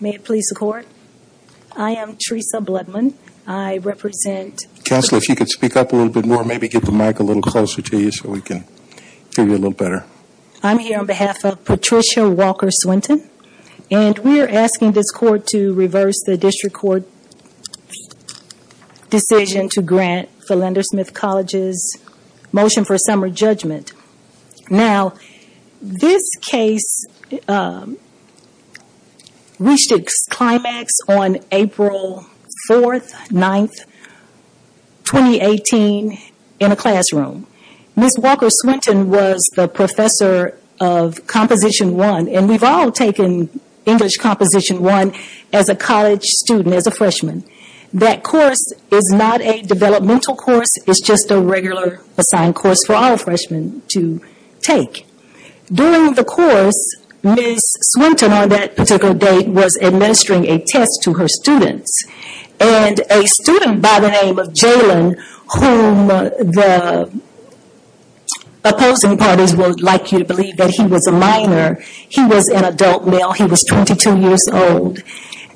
May it please the court, I am Teresa Bloodman, I represent Counselor, if you could speak up a little bit more, maybe get the mic a little closer to you so we can hear you a little better. I'm here on behalf of Patricia Walker-Swinton, and we are asking this court to reverse the district court decision to grant Philander Smith College's motion for a summer judgment. Now, this case reached its climax on April 4th, 9th, 2018 in a classroom. Ms. Walker-Swinton was the professor of Composition I, and we've all taken English Composition I as a college student, as a freshman. That course is not a developmental course, it's just a regular assigned course for all freshmen to take. During the course, Ms. Swinton, on that particular date, was administering a test to her students, and a student by the name of Jalen, whom the opposing parties would like you to believe that he was a minor, he was an adult male, he was 22 years old,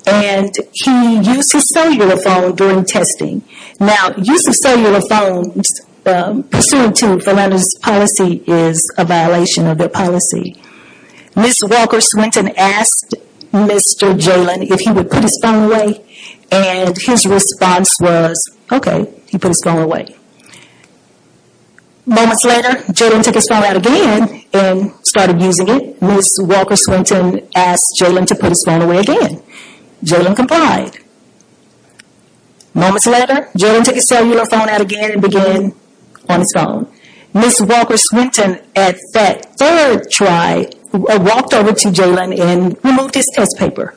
and he used his cellular phone during testing. Now, use of cellular phones pursuant to Philander's policy is a violation of their policy. Ms. Walker-Swinton asked Mr. Jalen if he would put his phone away, and his response was, okay, he put his phone away. Moments later, Jalen took his phone out again and started using it. Ms. Walker-Swinton asked Jalen to put his phone away again. Jalen complied. Moments later, Jalen took his cellular phone out again and began on his phone. Ms. Walker-Swinton, at that third try, walked over to Jalen and removed his test paper.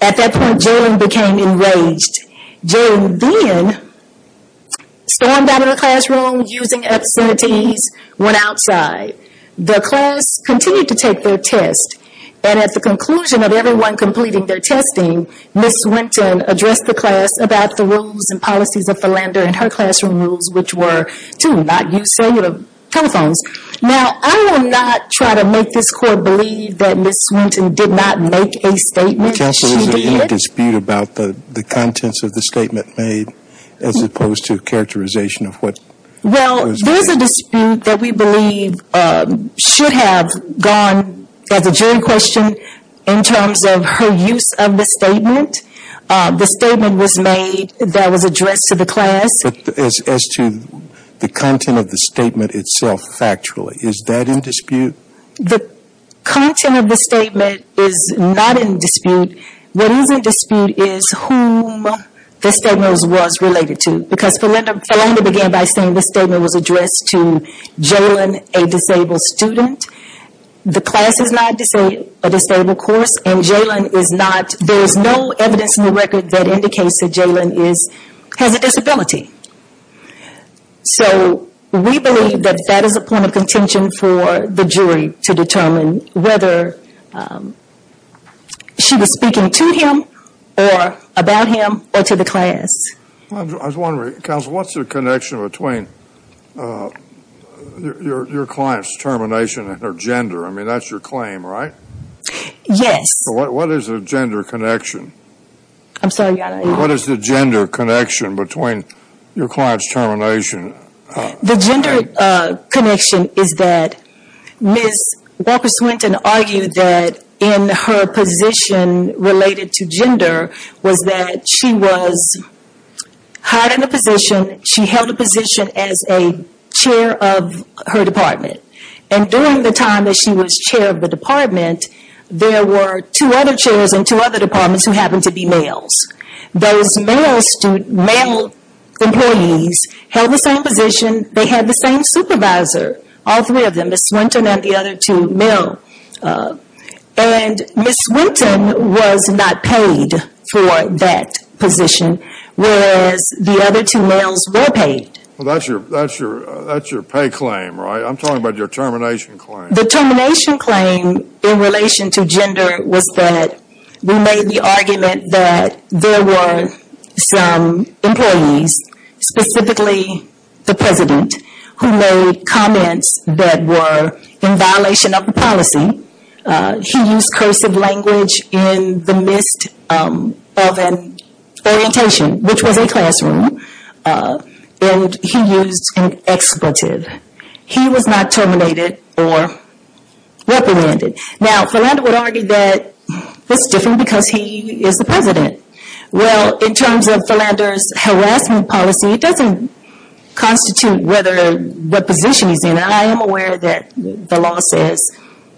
At that point, Jalen became enraged. Jalen then stormed out of the classroom, using obscenities, went outside. The class continued to take their test, and at the conclusion of everyone completing their testing, Ms. Swinton addressed the class about the rules and policies of Philander and her classroom rules, which were to not use cellular telephones. Now, I will not try to make this Court believe that Ms. Swinton did not make a statement. Counsel, is there any dispute about the contents of the statement made as opposed to characterization of what was made? Well, there's a dispute that we believe should have gone as a jury question in terms of her use of the statement. The statement was made that was addressed to the class. But as to the content of the statement itself, factually, is that in dispute? The content of the statement is not in dispute. What is in dispute is whom the statement was related to. Because Philander began by saying the statement was addressed to Jalen, a disabled student. The class is not a disabled course, and Jalen is not, there is no evidence in the record that indicates that Jalen has a disability. So, we believe that that is a point of contention for the jury to determine whether she was speaking to him, or about him, or to the class. I was wondering, Counsel, what's the connection between your client's termination and her gender? I mean, that's your claim, right? Yes. What is the gender connection? I'm sorry, Your Honor. What is the gender connection between your client's termination? The gender connection is that Ms. Walker Swinton argued that in her position related to gender was that she was hired in a position, she held a position as a chair of her department. And during the time that she was chair of the department, there were two other chairs in two other departments who happened to be males. Those male employees held the same position, they had the same supervisor, all three of them, Ms. Swinton and the other two male. And Ms. Swinton was not paid for that position, whereas the other two males were paid. Well, that's your pay claim, right? I'm talking about your termination claim. The termination claim in relation to gender was that we made the argument that there were some employees, specifically the president, who made comments that were in violation of the policy. He used cursive language in the midst of an orientation, which was a classroom, and he used an expletive. He was not terminated or reprimanded. Now, Philander would argue that this is different because he is the president. Well, in terms of Philander's harassment policy, it doesn't constitute what position he's in, and I am aware that the law says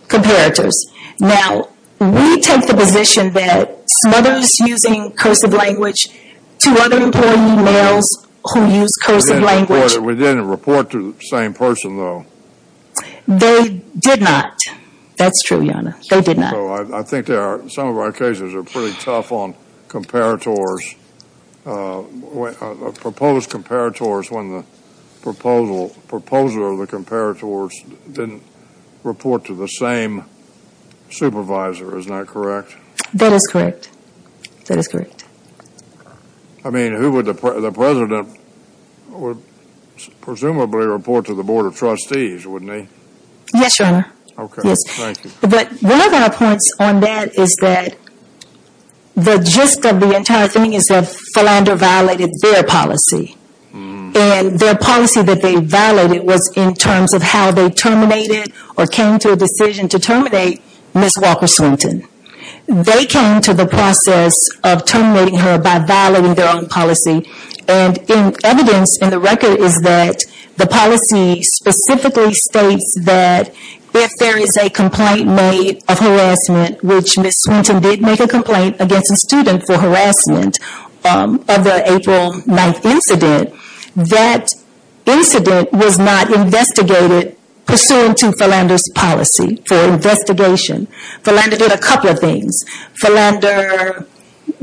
comparators. Now, we take the position that smothers using cursive language to other employee males who use cursive language. We didn't report to the same person, though. They did not. That's true, Your Honor. They did not. I think some of our cases are pretty tough on comparators, proposed comparators, when the proposal of the comparators didn't report to the same supervisor. Isn't that correct? That is correct. That is correct. I mean, who would the president presumably report to the Board of Trustees, wouldn't he? Yes, Your Honor. Okay. Thank you. But one of our points on that is that the gist of the entire thing is that Philander violated their policy, and their policy that they violated was in terms of how they terminated or came to a decision to terminate Ms. Walker Swinton. They came to the process of terminating her by violating their own policy, and evidence in the record is that the policy specifically states that if there is a complaint made of harassment, which Ms. Swinton did make a complaint against a student for harassment of the April 9th incident, that incident was not investigated pursuant to Philander's policy for investigation. Philander did a couple of things. Philander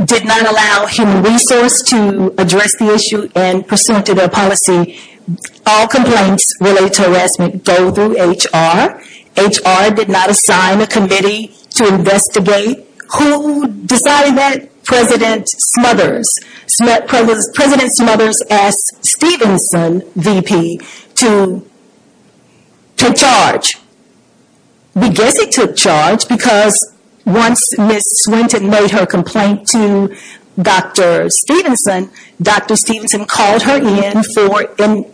did not allow human resource to address the issue, and pursuant to their policy, all complaints related to harassment go through HR. HR did not assign a committee to investigate. Who decided that? President Smothers. President Smothers asked Stevenson, VP, to charge. We guess he took charge because once Ms. Swinton made her complaint to Dr. Stevenson, Dr. Stevenson called her in for a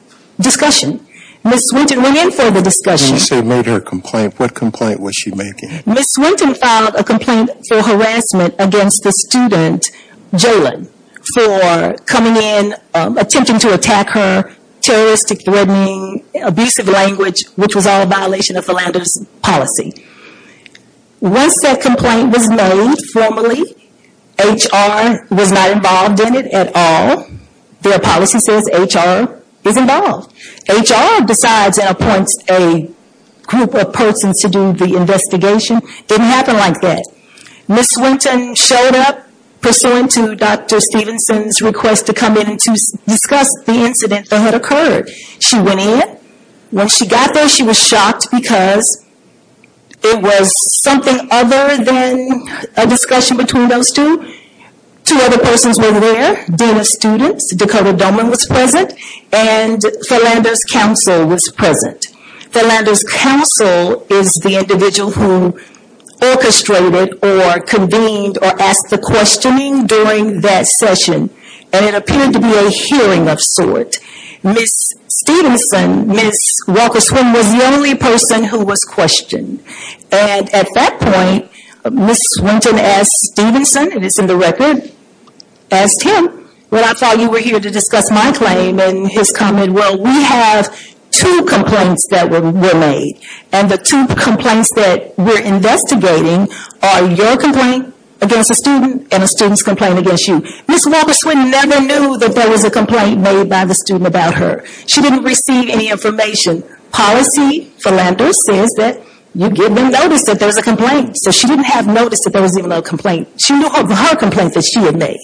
discussion. Ms. Swinton went in for the discussion. When you say made her complaint, what complaint was she making? Ms. Swinton filed a complaint for harassment against a student, Jalen, for coming in, attempting to attack her, terroristic, threatening, abusive language, which was all a violation of Philander's policy. Once that complaint was made formally, HR was not involved in it at all. Their policy says HR is involved. HR decides and appoints a group of persons to do the investigation. It didn't happen like that. Ms. Swinton showed up pursuant to Dr. Stevenson's request to come in and discuss the incident that had occurred. She went in. When she got there, she was shocked because it was something other than a discussion between those two. Two other persons were there, Dean of Students Dakota Doman was present, and Philander's counsel was present. Philander's counsel is the individual who orchestrated or convened or asked the questioning during that session. It appeared to be a hearing of sorts. Ms. Walker Swinton was the only person who was questioned. At that point, Ms. Swinton asked Stevenson, and it's in the record, when I thought you were here to discuss my claim and his comment, we have two complaints that were made. The two complaints that we're investigating are your complaint against a student and a student's complaint against you. Ms. Walker Swinton never knew that there was a complaint made by the student about her. She didn't receive any information. Policy, Philander says that you give them notice that there's a complaint. She didn't have notice that there was even a complaint. She knew of her complaint that she had made.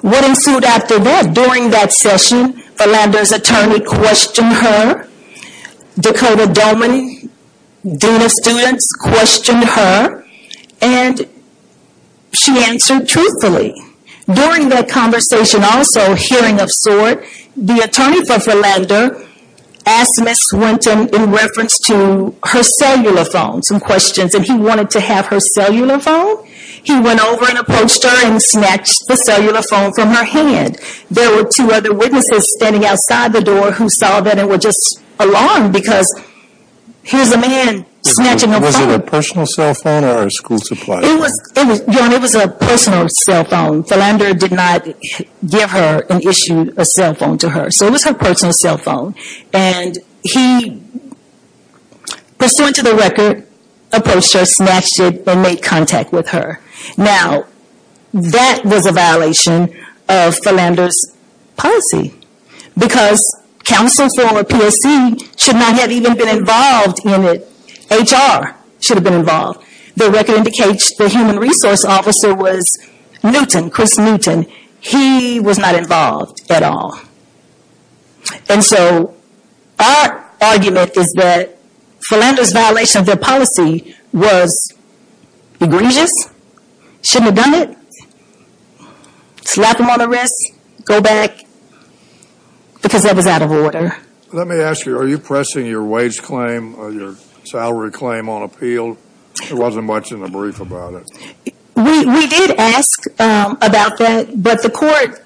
What ensued after that? During that session, Philander's attorney questioned her. Dakota Doman, Dean of Students, questioned her, and she answered truthfully. During that conversation also, hearing of sorts, the attorney for Philander asked Ms. Swinton, in reference to her cellular phone, some questions, and he wanted to have her cellular phone. He went over and approached her and snatched the cellular phone from her hand. There were two other witnesses standing outside the door who saw that and were just alarmed because here's a man snatching a phone. Was it a personal cell phone or a school supply phone? It was a personal cell phone. Philander did not give her an issue, a cell phone, to her. It was her personal cell phone. He, pursuant to the record, approached her, snatched it, and made contact with her. Now, that was a violation of Philander's policy because counsel from a PSC should not have even been involved in it. HR should have been involved. The record indicates the human resource officer was Newton, Chris Newton. He was not involved at all. And so our argument is that Philander's violation of their policy was egregious, shouldn't have done it, slap him on the wrist, go back, because that was out of order. Let me ask you, are you pressing your wage claim or your salary claim on appeal? There wasn't much in the brief about it. We did ask about that, but the court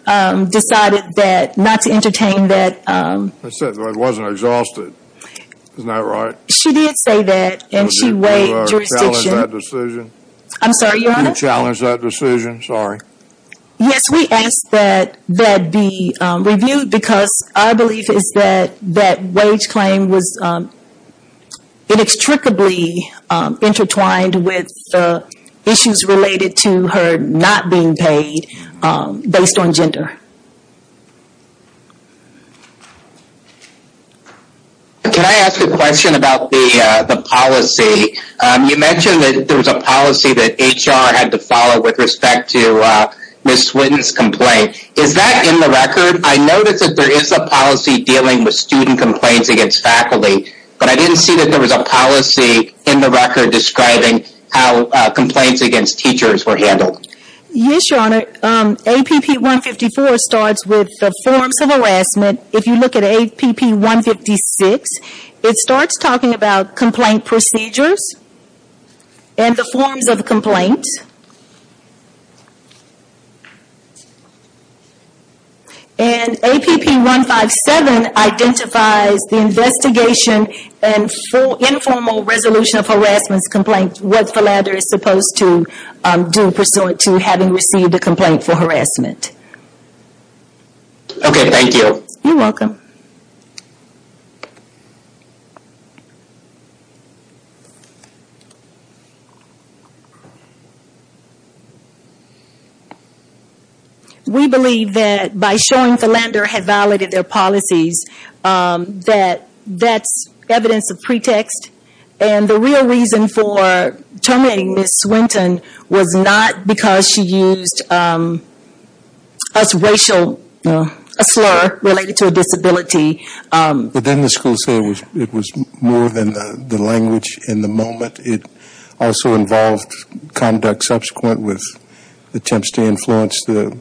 decided not to entertain that. I said it wasn't exhausted. Isn't that right? She did say that, and she weighed jurisdiction. Did you challenge that decision? I'm sorry, Your Honor? Did you challenge that decision? Sorry. Yes, we asked that that be reviewed because our belief is that that wage claim was inextricably intertwined with issues related to her not being paid based on gender. Can I ask a question about the policy? You mentioned that there was a policy that HR had to follow with respect to Ms. Swinton's complaint. Is that in the record? I noticed that there is a policy dealing with student complaints against faculty, but I didn't see that there was a policy in the record describing how complaints against teachers were handled. Yes, Your Honor. APP 154 starts with the forms of harassment. If you look at APP 156, it starts talking about complaint procedures and the forms of complaints. And APP 157 identifies the investigation and informal resolution of harassment complaints, what Philander is supposed to do pursuant to having received a complaint for harassment. Okay, thank you. You're welcome. We believe that by showing Philander had violated their policies, that that's evidence of pretext. And the real reason for terminating Ms. Swinton was not because she used a racial slur related to a disability. But didn't the school say it was more than the language in the moment? It also involved conduct subsequent with attempts to influence the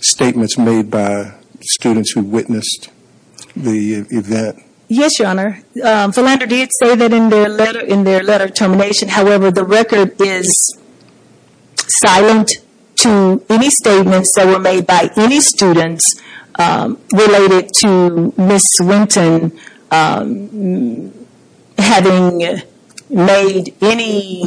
statements made by students who witnessed the event? Yes, Your Honor. Philander did say that in their letter termination. However, the record is silent to any statements that were made by any students related to Ms. Swinton having made any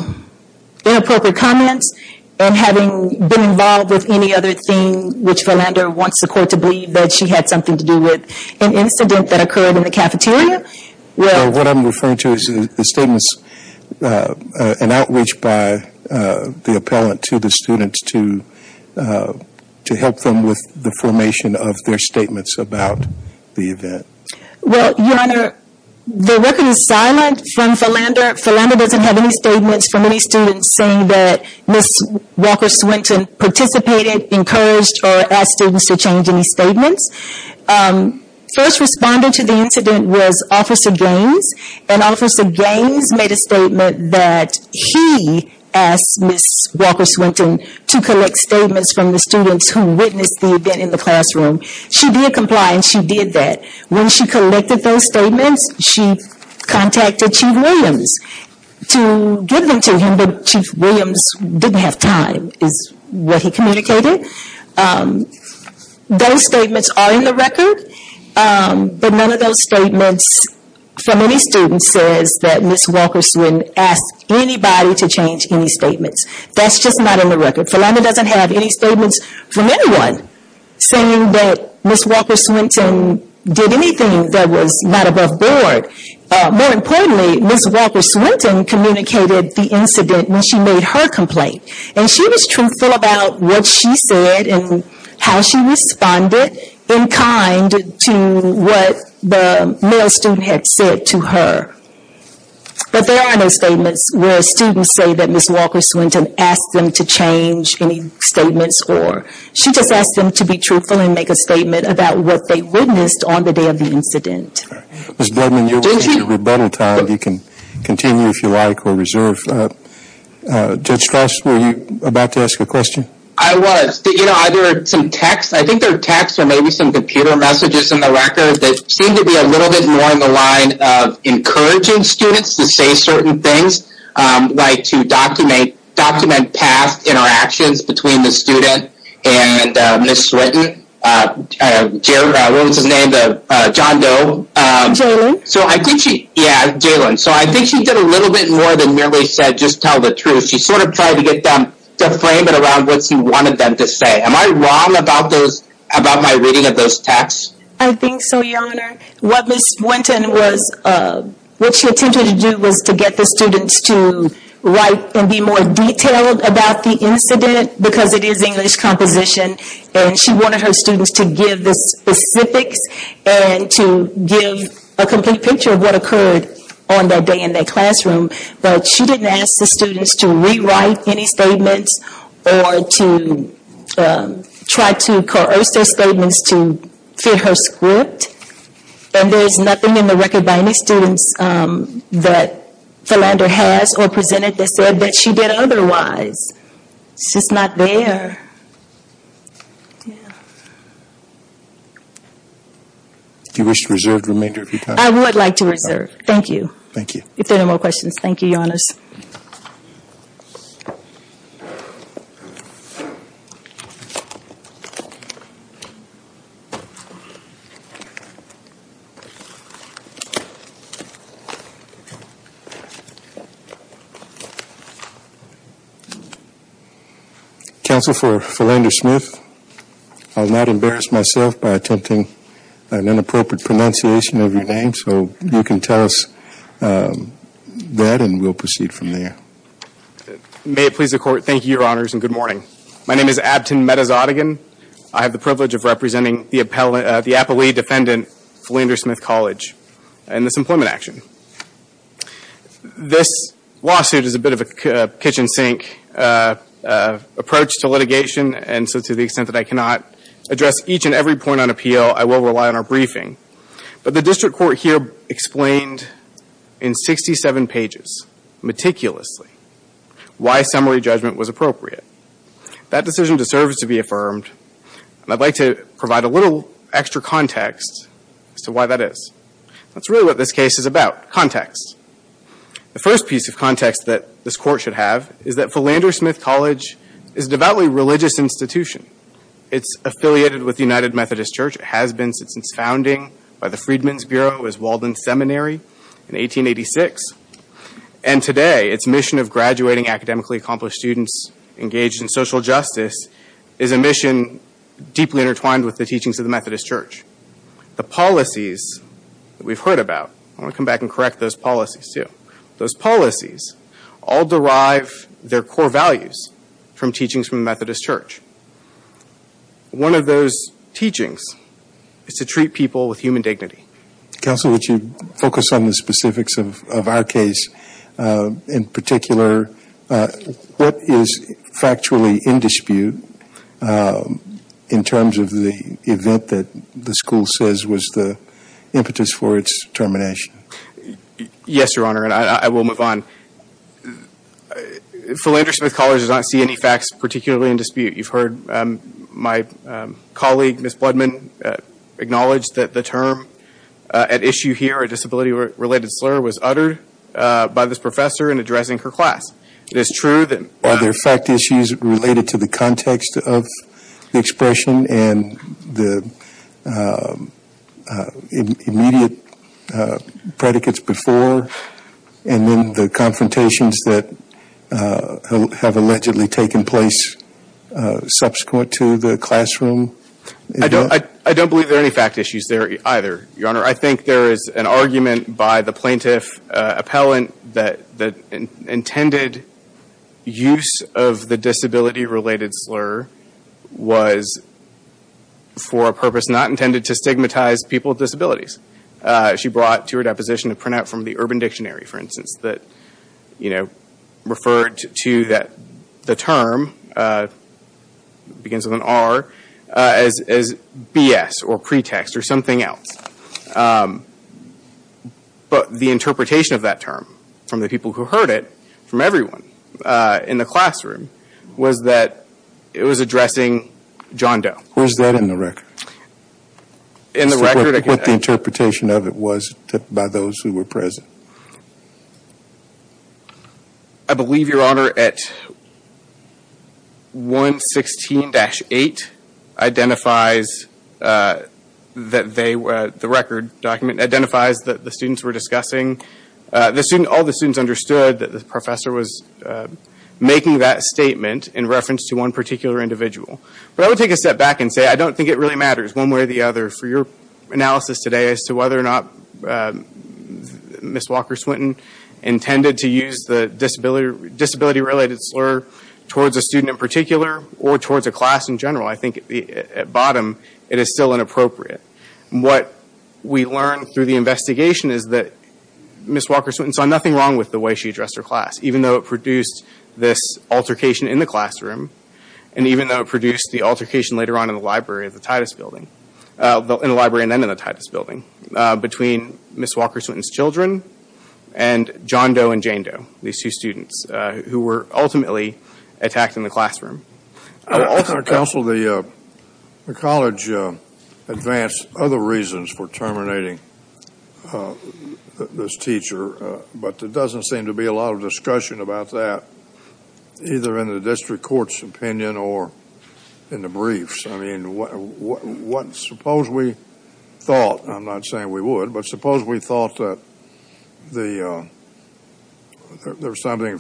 inappropriate comments and having been involved with any other thing which Philander wants the court to believe that she had something to do with. Well, what I'm referring to is the statements and outreach by the appellant to the students to help them with the formation of their statements about the event. Well, Your Honor, the record is silent from Philander. Philander doesn't have any statements from any students saying that Ms. Walker Swinton participated, First responder to the incident was Officer Gaines. And Officer Gaines made a statement that he asked Ms. Walker Swinton to collect statements from the students who witnessed the event in the classroom. She did comply and she did that. When she collected those statements, she contacted Chief Williams to give them to him. But Chief Williams didn't have time is what he communicated. Those statements are in the record. But none of those statements from any student says that Ms. Walker Swinton asked anybody to change any statements. That's just not in the record. Philander doesn't have any statements from anyone saying that Ms. Walker Swinton did anything that was not above board. More importantly, Ms. Walker Swinton communicated the incident when she made her complaint. And she was truthful about what she said and how she responded in kind to what the male student had said to her. But there are no statements where students say that Ms. Walker Swinton asked them to change any statements. Or she just asked them to be truthful and make a statement about what they witnessed on the day of the incident. Ms. Bledman, you're with us. If you have a better time, you can continue if you like or reserve. Judge Strauss, were you about to ask a question? I was. I think there are texts or maybe some computer messages in the record that seem to be a little bit more in the line of encouraging students to say certain things. Like to document past interactions between the student and Ms. Swinton. What was his name? John Doe. Jalen. Yeah, Jalen. So I think she did a little bit more than merely said just tell the truth. She sort of tried to get them to frame it around what she wanted them to say. Am I wrong about my reading of those texts? I think so, Your Honor. What Ms. Swinton was, what she attempted to do was to get the students to write and be more detailed about the incident. Because it is English composition. And she wanted her students to give the specifics and to give a complete picture of what occurred on that day in that classroom. But she didn't ask the students to rewrite any statements or to try to coerce their statements to fit her script. And there is nothing in the record by any students that Philander has or presented that said that she did otherwise. It's just not there. Do you wish to reserve the remainder of your time? I would like to reserve. Thank you. Thank you. If there are no more questions, thank you, Your Honors. Counsel for Philander-Smith, I will not embarrass myself by attempting an inappropriate pronunciation of your name. So you can tell us that and we will proceed from there. May it please the Court, thank you, Your Honors, and good morning. My name is Abtin Metazadegan. I have the privilege of representing the appellee defendant, Philander-Smith College, in this employment action. This lawsuit is a bit of a kitchen sink approach to litigation. And so to the extent that I cannot address each and every point on appeal, I will rely on our briefing. But the district court here explained in 67 pages, meticulously, why summary judgment was appropriate. That decision deserves to be affirmed. And I'd like to provide a little extra context as to why that is. That's really what this case is about, context. The first piece of context that this court should have is that Philander-Smith College is a devoutly religious institution. It's affiliated with the United Methodist Church. It has been since its founding by the Freedmen's Bureau as Walden Seminary in 1886. And today, its mission of graduating academically accomplished students engaged in social justice is a mission deeply intertwined with the teachings of the Methodist Church. The policies that we've heard about, I want to come back and correct those policies, too. Those policies all derive their core values from teachings from the Methodist Church. One of those teachings is to treat people with human dignity. Counsel, would you focus on the specifics of our case in particular? What is factually in dispute in terms of the event that the school says was the impetus for its termination? Yes, Your Honor, and I will move on. Philander-Smith College does not see any facts particularly in dispute. You've heard my colleague, Ms. Bloodman, acknowledge that the term at issue here, a disability-related slur, was uttered by this professor in addressing her class. It is true that there are fact issues related to the context of the expression and the immediate predicates before, and then the confrontations that have allegedly taken place subsequent to the classroom event. I don't believe there are any fact issues there either, Your Honor. I think there is an argument by the plaintiff appellant that the intended use of the disability-related slur was for a purpose not intended to stigmatize people with disabilities. She brought to her deposition a printout from the Urban Dictionary, for instance, that referred to the term, begins with an R, as BS or pretext or something else. But the interpretation of that term from the people who heard it, from everyone in the classroom, was that it was addressing John Doe. Where is that in the record? In the record? What the interpretation of it was by those who were present. I believe, Your Honor, that 116-8 identifies that the students were discussing. All the students understood that the professor was making that statement in reference to one particular individual. But I would take a step back and say I don't think it really matters, one way or the other, for your analysis today as to whether or not Ms. Walker Swinton intended to use the disability-related slur towards a student in particular or towards a class in general. I think, at bottom, it is still inappropriate. What we learned through the investigation is that Ms. Walker Swinton saw nothing wrong with the way she addressed her class, even though it produced this altercation in the classroom and even though it produced the altercation later on in the library of the Titus Building. In the library and then in the Titus Building. Between Ms. Walker Swinton's children and John Doe and Jane Doe, these two students, who were ultimately attacked in the classroom. Counsel, the college advanced other reasons for terminating this teacher, but there doesn't seem to be a lot of discussion about that, either in the district court's opinion or in the briefs. I mean, suppose we thought, I'm not saying we would, but suppose we thought that there was something,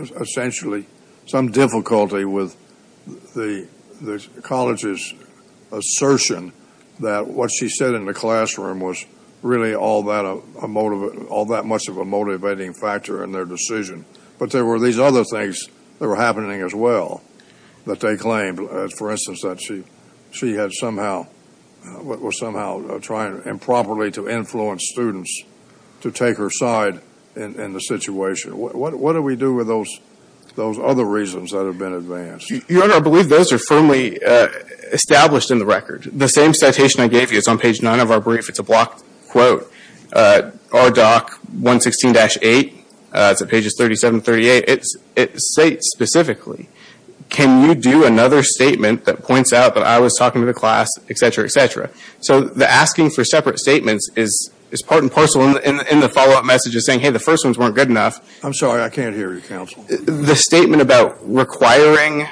essentially some difficulty with the college's assertion that what she said in the classroom was really all that much of a motivating factor in their decision, but there were these other things that were happening, as well, that they claimed. For instance, that she had somehow, was somehow trying improperly to influence students to take her side in the situation. What do we do with those other reasons that have been advanced? Your Honor, I believe those are firmly established in the record. The same citation I gave you is on page 9 of our brief. It's a blocked quote. Our doc, 116-8, it's at pages 37 and 38. It states specifically, can you do another statement that points out that I was talking to the class, et cetera, et cetera. So the asking for separate statements is part and parcel in the follow-up messages saying, hey, the first ones weren't good enough. I'm sorry, I can't hear you, Counsel. The statement about requiring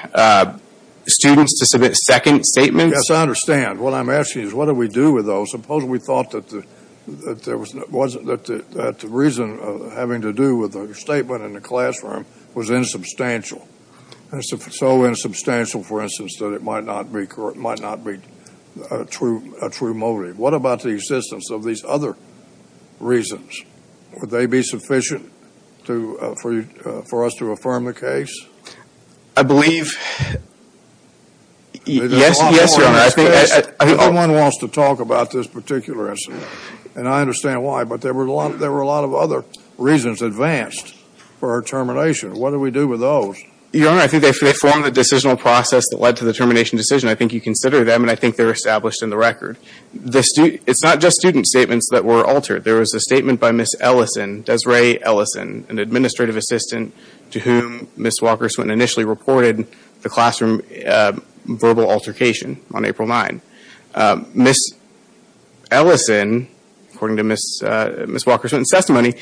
students to submit second statements. Yes, I understand. What I'm asking is, what do we do with those? Suppose we thought that the reason having to do with the statement in the classroom was insubstantial, so insubstantial, for instance, that it might not be a true motive. What about the existence of these other reasons? Would they be sufficient for us to affirm the case? I believe, yes, Your Honor. No one wants to talk about this particular incident, and I understand why, but there were a lot of other reasons advanced for her termination. What do we do with those? Your Honor, I think they form the decisional process that led to the termination decision. I think you consider them, and I think they're established in the record. It's not just student statements that were altered. There was a statement by Ms. Ellison, Desiree Ellison, an administrative assistant, to whom Ms. Walker-Swinton initially reported the classroom verbal altercation on April 9th. Ms. Ellison, according to Ms. Walker-Swinton's testimony,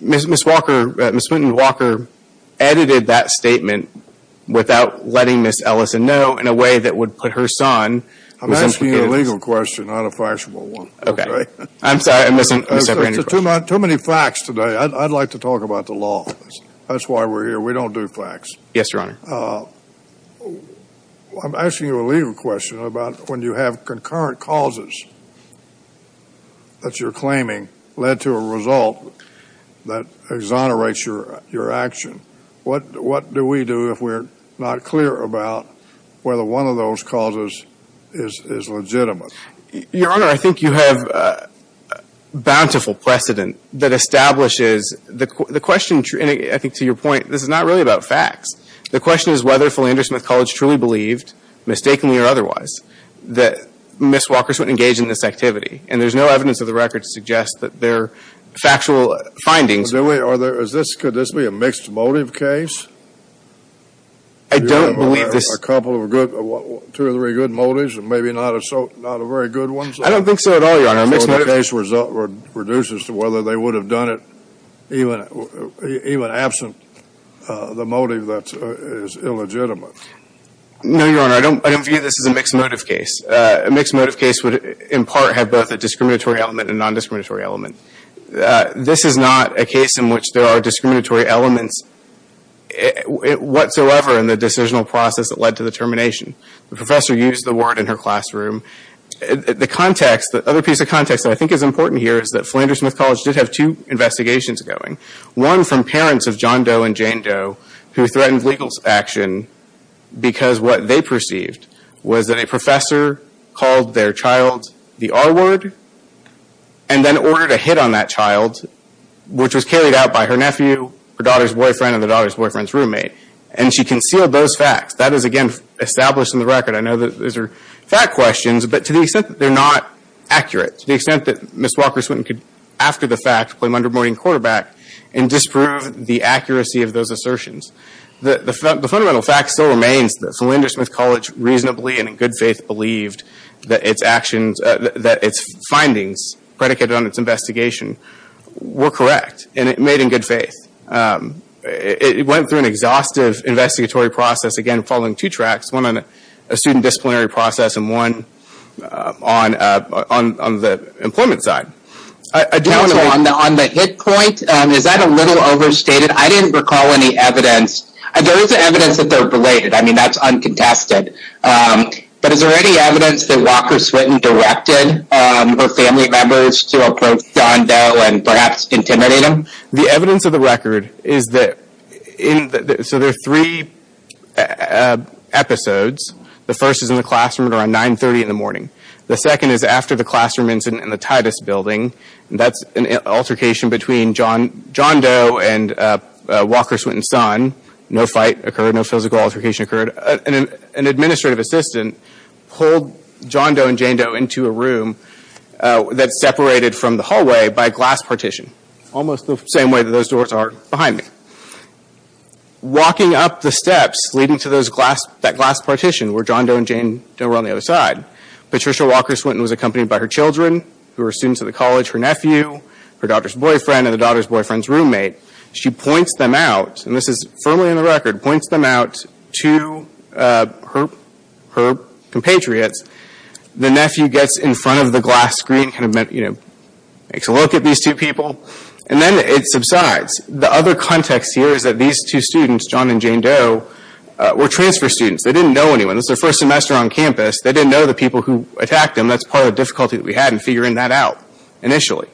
Ms. Walker-Swinton edited that statement without letting Ms. Ellison know in a way that would put her son. I'm asking you a legal question, not a fire-resistant one. Okay. I'm sorry, I'm missing a separate question. Too many facts today. I'd like to talk about the law. That's why we're here. We don't do facts. Yes, Your Honor. I'm asking you a legal question about when you have concurrent causes that you're claiming led to a result that exonerates your action. What do we do if we're not clear about whether one of those causes is legitimate? Your Honor, I think you have a bountiful precedent that establishes the question. And I think to your point, this is not really about facts. The question is whether Philander-Smith College truly believed, mistakenly or otherwise, that Ms. Walker-Swinton engaged in this activity. And there's no evidence of the record to suggest that there are factual findings. Could this be a mixed motive case? I don't believe this. A couple of good, two or three good motives and maybe not a very good one? I don't think so at all, Your Honor. A mixed motive case reduces to whether they would have done it even absent the motive that is illegitimate. No, Your Honor. I don't view this as a mixed motive case. A mixed motive case would, in part, have both a discriminatory element and a nondiscriminatory element. This is not a case in which there are discriminatory elements whatsoever in the decisional process that led to the termination. The professor used the word in her classroom. The other piece of context that I think is important here is that Philander-Smith College did have two investigations going. One from parents of John Doe and Jane Doe who threatened legal action because what they perceived was that a professor called their child the R word and then ordered a hit on that child, which was carried out by her nephew, her daughter's boyfriend, and the daughter's boyfriend's roommate. And she concealed those facts. That is, again, established in the record. I know that these are fact questions, but to the extent that they're not accurate, to the extent that Ms. Walker Swinton could, after the fact, claim underboarding quarterback and disprove the accuracy of those assertions. The fundamental fact still remains that Philander-Smith College reasonably and in good faith believed that its findings predicated on its investigation were correct and made in good faith. It went through an exhaustive investigatory process, again, following two tracks. One on a student disciplinary process and one on the employment side. On the hit point, is that a little overstated? I didn't recall any evidence. There is evidence that they're related. I mean, that's uncontested. But is there any evidence that Walker Swinton directed her family members to approach John Doe and perhaps intimidate him? The evidence of the record is that there are three episodes. The first is in the classroom around 930 in the morning. The second is after the classroom incident in the Titus Building. That's an altercation between John Doe and Walker Swinton's son. No fight occurred. No physical altercation occurred. An administrative assistant pulled John Doe and Jane Doe into a room that's separated from the hallway by a glass partition, almost the same way that those doors are behind me. Walking up the steps leading to that glass partition where John Doe and Jane Doe were on the other side, Patricia Walker Swinton was accompanied by her children, who were students of the college, her nephew, her daughter's boyfriend, and the daughter's boyfriend's roommate. She points them out, and this is firmly in the record, points them out to her compatriots. The nephew gets in front of the glass screen, makes a look at these two people, and then it subsides. The other context here is that these two students, John and Jane Doe, were transfer students. They didn't know anyone. This was their first semester on campus. They didn't know the people who attacked them. That's part of the difficulty that we had in figuring that out initially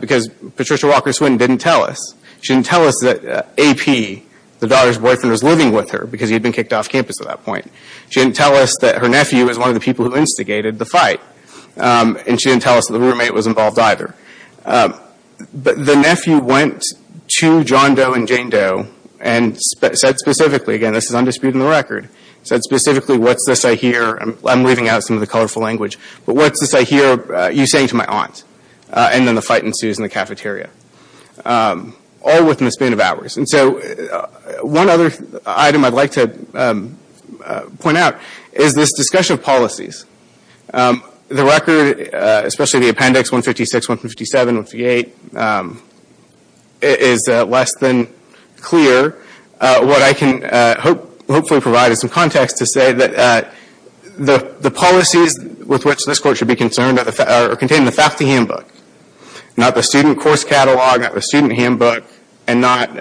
because Patricia Walker Swinton didn't tell us. She didn't tell us that AP, the daughter's boyfriend, was living with her because he had been kicked off campus at that point. She didn't tell us that her nephew was one of the people who instigated the fight, and she didn't tell us that the roommate was involved either. But the nephew went to John Doe and Jane Doe and said specifically, again, this is undisputed in the record, said specifically, what's this I hear? I'm leaving out some of the colorful language, but what's this I hear you saying to my aunt? And then the fight ensues in the cafeteria, all within a span of hours. And so one other item I'd like to point out is this discussion of policies. The record, especially the appendix 156, 157, 158, is less than clear. What I can hopefully provide is some context to say that the policies with which this court should be concerned are contained in the faculty handbook, not the student course catalog, not the student handbook, and not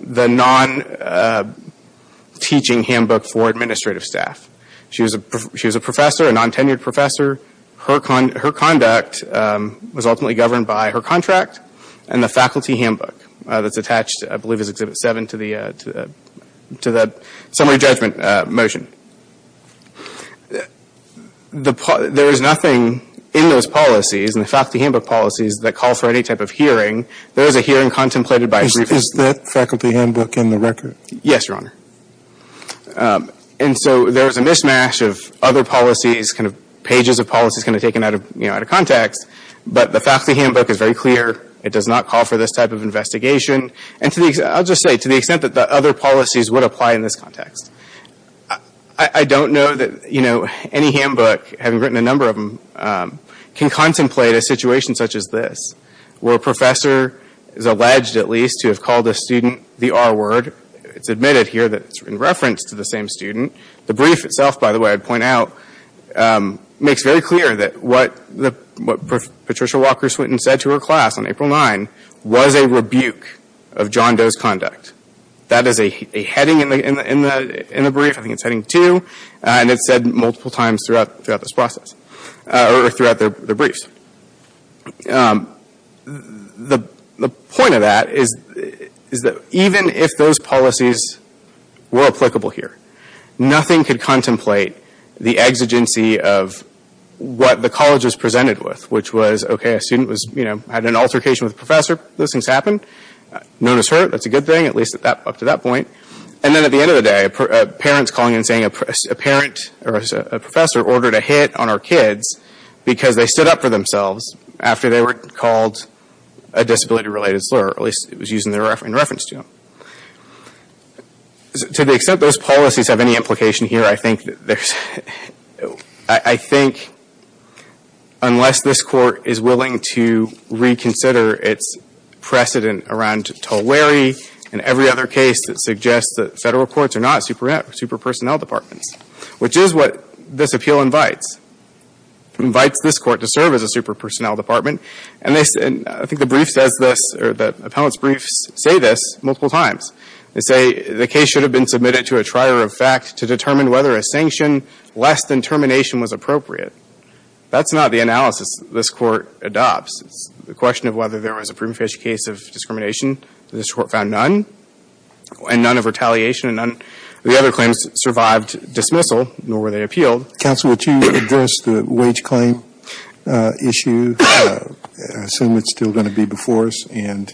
the non-teaching handbook for administrative staff. She was a professor, a non-tenured professor. Her conduct was ultimately governed by her contract and the faculty handbook that's attached, I believe, as Exhibit 7 to the summary judgment motion. There is nothing in those policies, in the faculty handbook policies, that calls for any type of hearing. There is a hearing contemplated by a briefing. Is that faculty handbook in the record? Yes, Your Honor. And so there is a mishmash of other policies, pages of policies taken out of context, but the faculty handbook is very clear. It does not call for this type of investigation. I'll just say, to the extent that the other policies would apply in this context. I don't know that any handbook, having written a number of them, can contemplate a situation such as this, where a professor is alleged, at least, to have called a student the R word. It's admitted here that it's in reference to the same student. The brief itself, by the way, I'd point out, makes very clear that what Patricia Walker Swinton said to her class on April 9 was a rebuke of John Doe's conduct. That is a heading in the brief, I think it's heading 2, and it's said multiple times throughout this process, or throughout the briefs. The point of that is that even if those policies were applicable here, nothing could contemplate the exigency of what the college was presented with, which was, okay, a student had an altercation with a professor. Those things happened. No one was hurt. That's a good thing, at least up to that point. And then at the end of the day, parents calling and saying a professor ordered a hit on our kids because they stood up for themselves after they were called a disability-related slur, or at least it was in reference to them. To the extent those policies have any implication here, I think unless this court is willing to reconsider its precedent around Tulwere, and every other case that suggests that federal courts are not super-personnel departments, which is what this appeal invites. It invites this court to serve as a super-personnel department, and I think the brief says this, or the appellant's briefs say this multiple times. They say the case should have been submitted to a trier of fact to determine whether a sanction less than termination was appropriate. That's not the analysis this court adopts. It's the question of whether there was a prudent case of discrimination. This court found none, and none of retaliation, and none of the other claims survived dismissal, nor were they appealed. Counsel, would you address the wage claim issue? I assume it's still going to be before us, and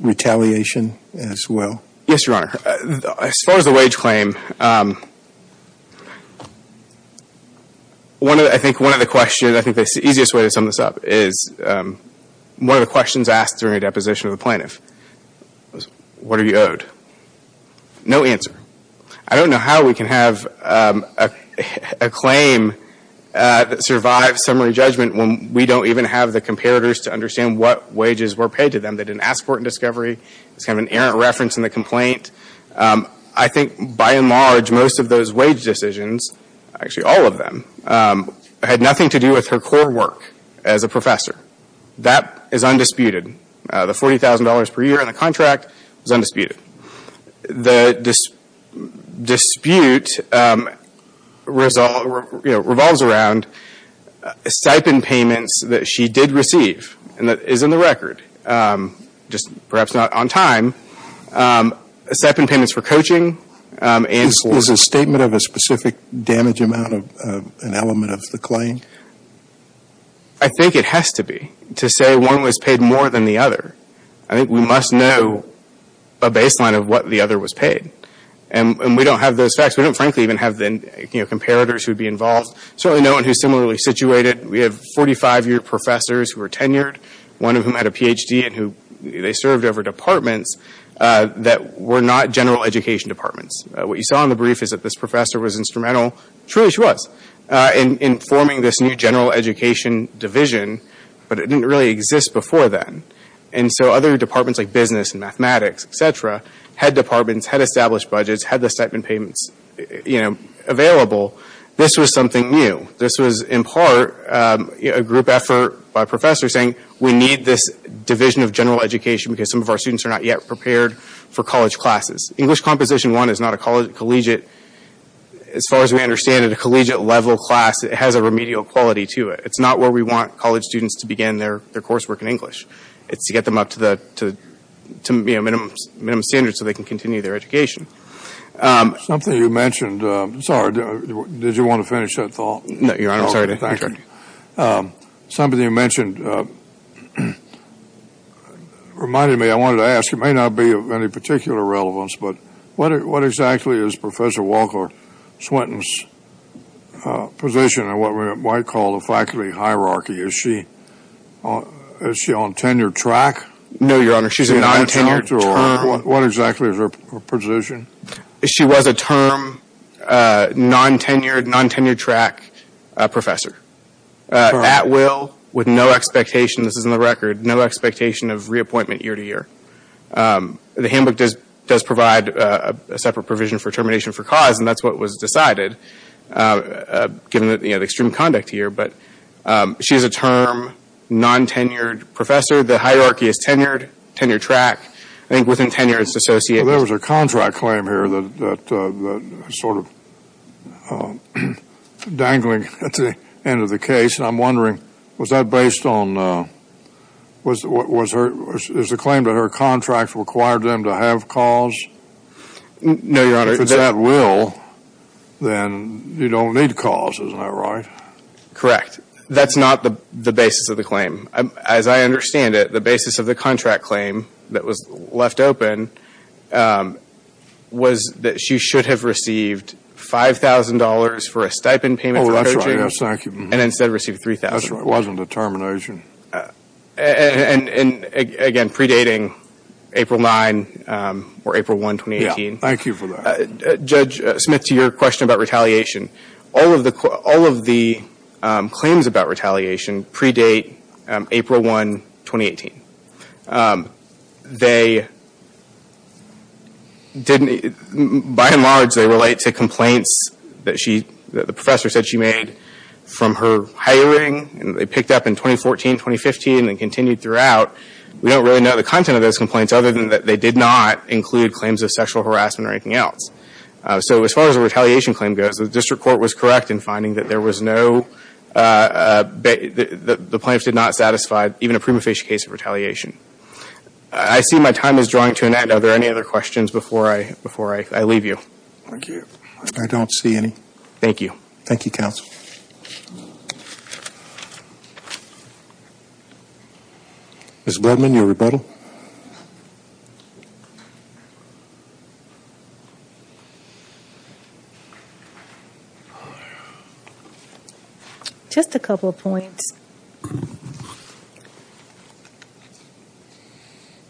retaliation as well. Yes, Your Honor. As far as the wage claim, I think one of the questions, I think the easiest way to sum this up is one of the questions asked during a deposition of a plaintiff was, what are you owed? No answer. I don't know how we can have a claim that survives summary judgment when we don't even have the comparators to understand what wages were paid to them. They didn't ask for it in discovery. It's kind of an errant reference in the complaint. I think, by and large, most of those wage decisions, actually all of them, had nothing to do with her core work as a professor. That is undisputed. The $40,000 per year in the contract was undisputed. The dispute revolves around stipend payments that she did receive, and that is in the record, just perhaps not on time, stipend payments for coaching and for Is a statement of a specific damage amount an element of the claim? I think it has to be, to say one was paid more than the other. I think we must know a baseline of what the other was paid. And we don't have those facts. We don't, frankly, even have the comparators who would be involved. Certainly no one who is similarly situated. We have 45-year professors who are tenured, one of whom had a Ph.D. and they served over departments that were not general education departments. What you saw in the brief is that this professor was instrumental, truly she was, in forming this new general education division, but it didn't really exist before then. And so other departments like business and mathematics, etc., had departments, had established budgets, had the stipend payments available. This was something new. This was, in part, a group effort by professors saying we need this division of general education because some of our students are not yet prepared for college classes. English Composition I is not a collegiate, as far as we understand it, a collegiate level class, it has a remedial quality to it. It's not where we want college students to begin their coursework in English. It's to get them up to minimum standards so they can continue their education. Something you mentioned, sorry, did you want to finish that thought? No, Your Honor, I'm sorry to interrupt you. Something you mentioned reminded me, I wanted to ask, it may not be of any particular relevance, but what exactly is Professor Walker-Swinton's position in what we might call the faculty hierarchy? Is she on tenure track? No, Your Honor, she's a non-tenured term. What exactly is her position? She was a term, non-tenured, non-tenured track professor. At will, with no expectation, this is in the record, no expectation of reappointment year-to-year. The handbook does provide a separate provision for termination for cause, and that's what was decided given the extreme conduct here. But she is a term, non-tenured professor. The hierarchy is tenured, tenure track. I think within tenure it's associated. There was a contract claim here that sort of dangling at the end of the case, and I'm wondering, was that based on, is the claim that her contract required them to have cause? No, Your Honor. If it's at will, then you don't need cause, isn't that right? Correct. That's not the basis of the claim. As I understand it, the basis of the contract claim that was left open was that she should have received $5,000 for a stipend payment for coaching. Oh, that's right. Yes, thank you. And instead received $3,000. That's right. It wasn't a termination. And, again, predating April 9 or April 1, 2018. Yes, thank you for that. Judge Smith, to your question about retaliation, all of the claims about retaliation predate April 1, 2018. By and large, they relate to complaints that the professor said she made from her hiring, and they picked up in 2014, 2015, and continued throughout. We don't really know the content of those complaints, other than that they did not include claims of sexual harassment or anything else. So as far as a retaliation claim goes, the district court was correct in finding that there was no – the plaintiffs did not satisfy even a prima facie case of retaliation. I see my time is drawing to an end. Are there any other questions before I leave you? Thank you. Thank you. Thank you, counsel. Thank you. Ms. Bledman, your rebuttal.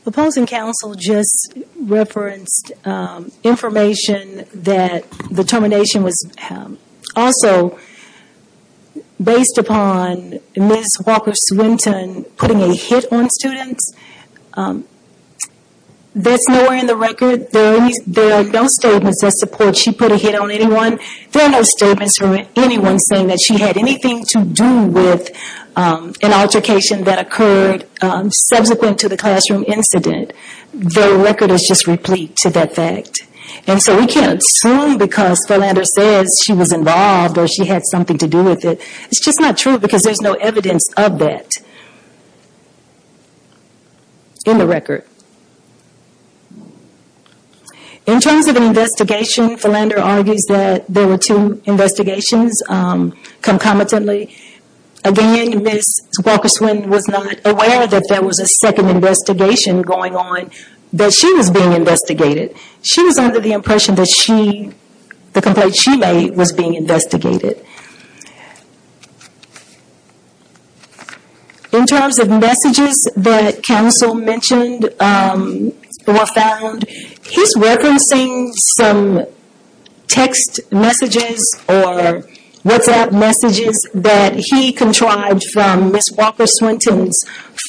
Opposing counsel just referenced information that the termination was also based upon Ms. Walker Swinton putting a hit on students. That's nowhere in the record. There are no statements that support she put a hit on anyone. There are no statements from anyone saying that she had anything to do with an altercation that occurred subsequent to the classroom incident. The record is just replete to that fact. We can't assume because Philander says she was involved or she had something to do with it. It's just not true because there's no evidence of that in the record. In terms of an investigation, Philander argues that there were two investigations concomitantly. Again, Ms. Walker Swinton was not aware that there was a second investigation going on that she was being investigated. She was under the impression that the complaint she made was being investigated. In terms of messages that counsel mentioned or found, he's referencing some text messages or WhatsApp messages that he contrived from Ms. Walker Swinton's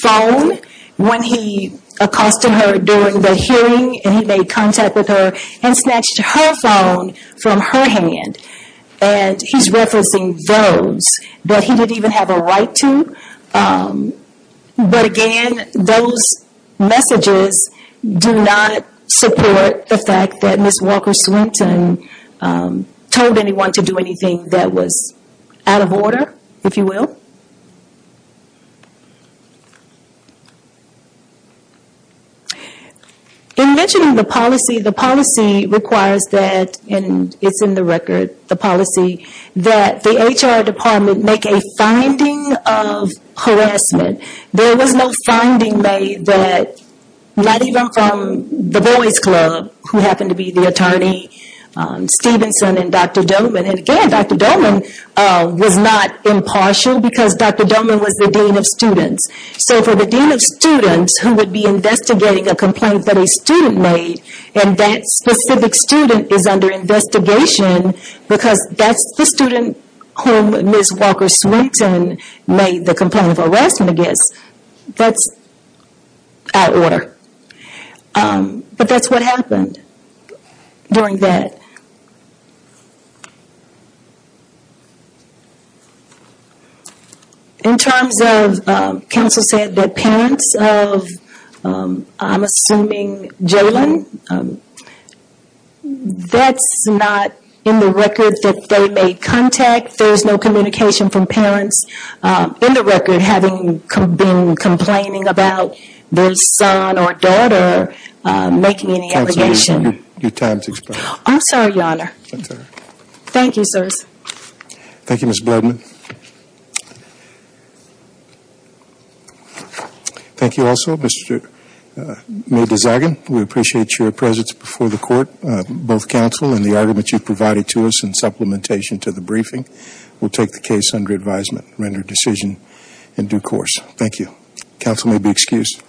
phone when he accosted her during the hearing and he made contact with her and snatched her phone from her hand. He's referencing those that he didn't even have a right to. Again, those messages do not support the fact that Ms. Walker Swinton told anyone to do anything that was out of order, if you will. In mentioning the policy, the policy requires that, and it's in the record, the policy that the HR department make a finding of harassment. There was no finding made that, not even from the Boys Club, who happened to be the attorney, Stevenson and Dr. Doman. Again, Dr. Doman was not impartial because Dr. Doman was the dean of students. For the dean of students who would be investigating a complaint that a student made, and that specific student is under investigation because that's the student whom Ms. Walker Swinton made the complaint of harassment against, that's out of order. But that's what happened during that. In terms of, counsel said that parents of, I'm assuming, Jalen, that's not in the record that they made contact. There's no communication from parents in the record having been complaining about their son or daughter making any allegation. Counsel, your time has expired. I'm sorry, Your Honor. That's all right. Thank you, sirs. Thank you, Ms. Bledman. Thank you also, Mr. Mayer-Desjardins. We appreciate your presence before the court, both counsel and the arguments you've provided to us in supplementation to the briefing. We'll take the case under advisement and render a decision in due course. Thank you. Counsel may be excused.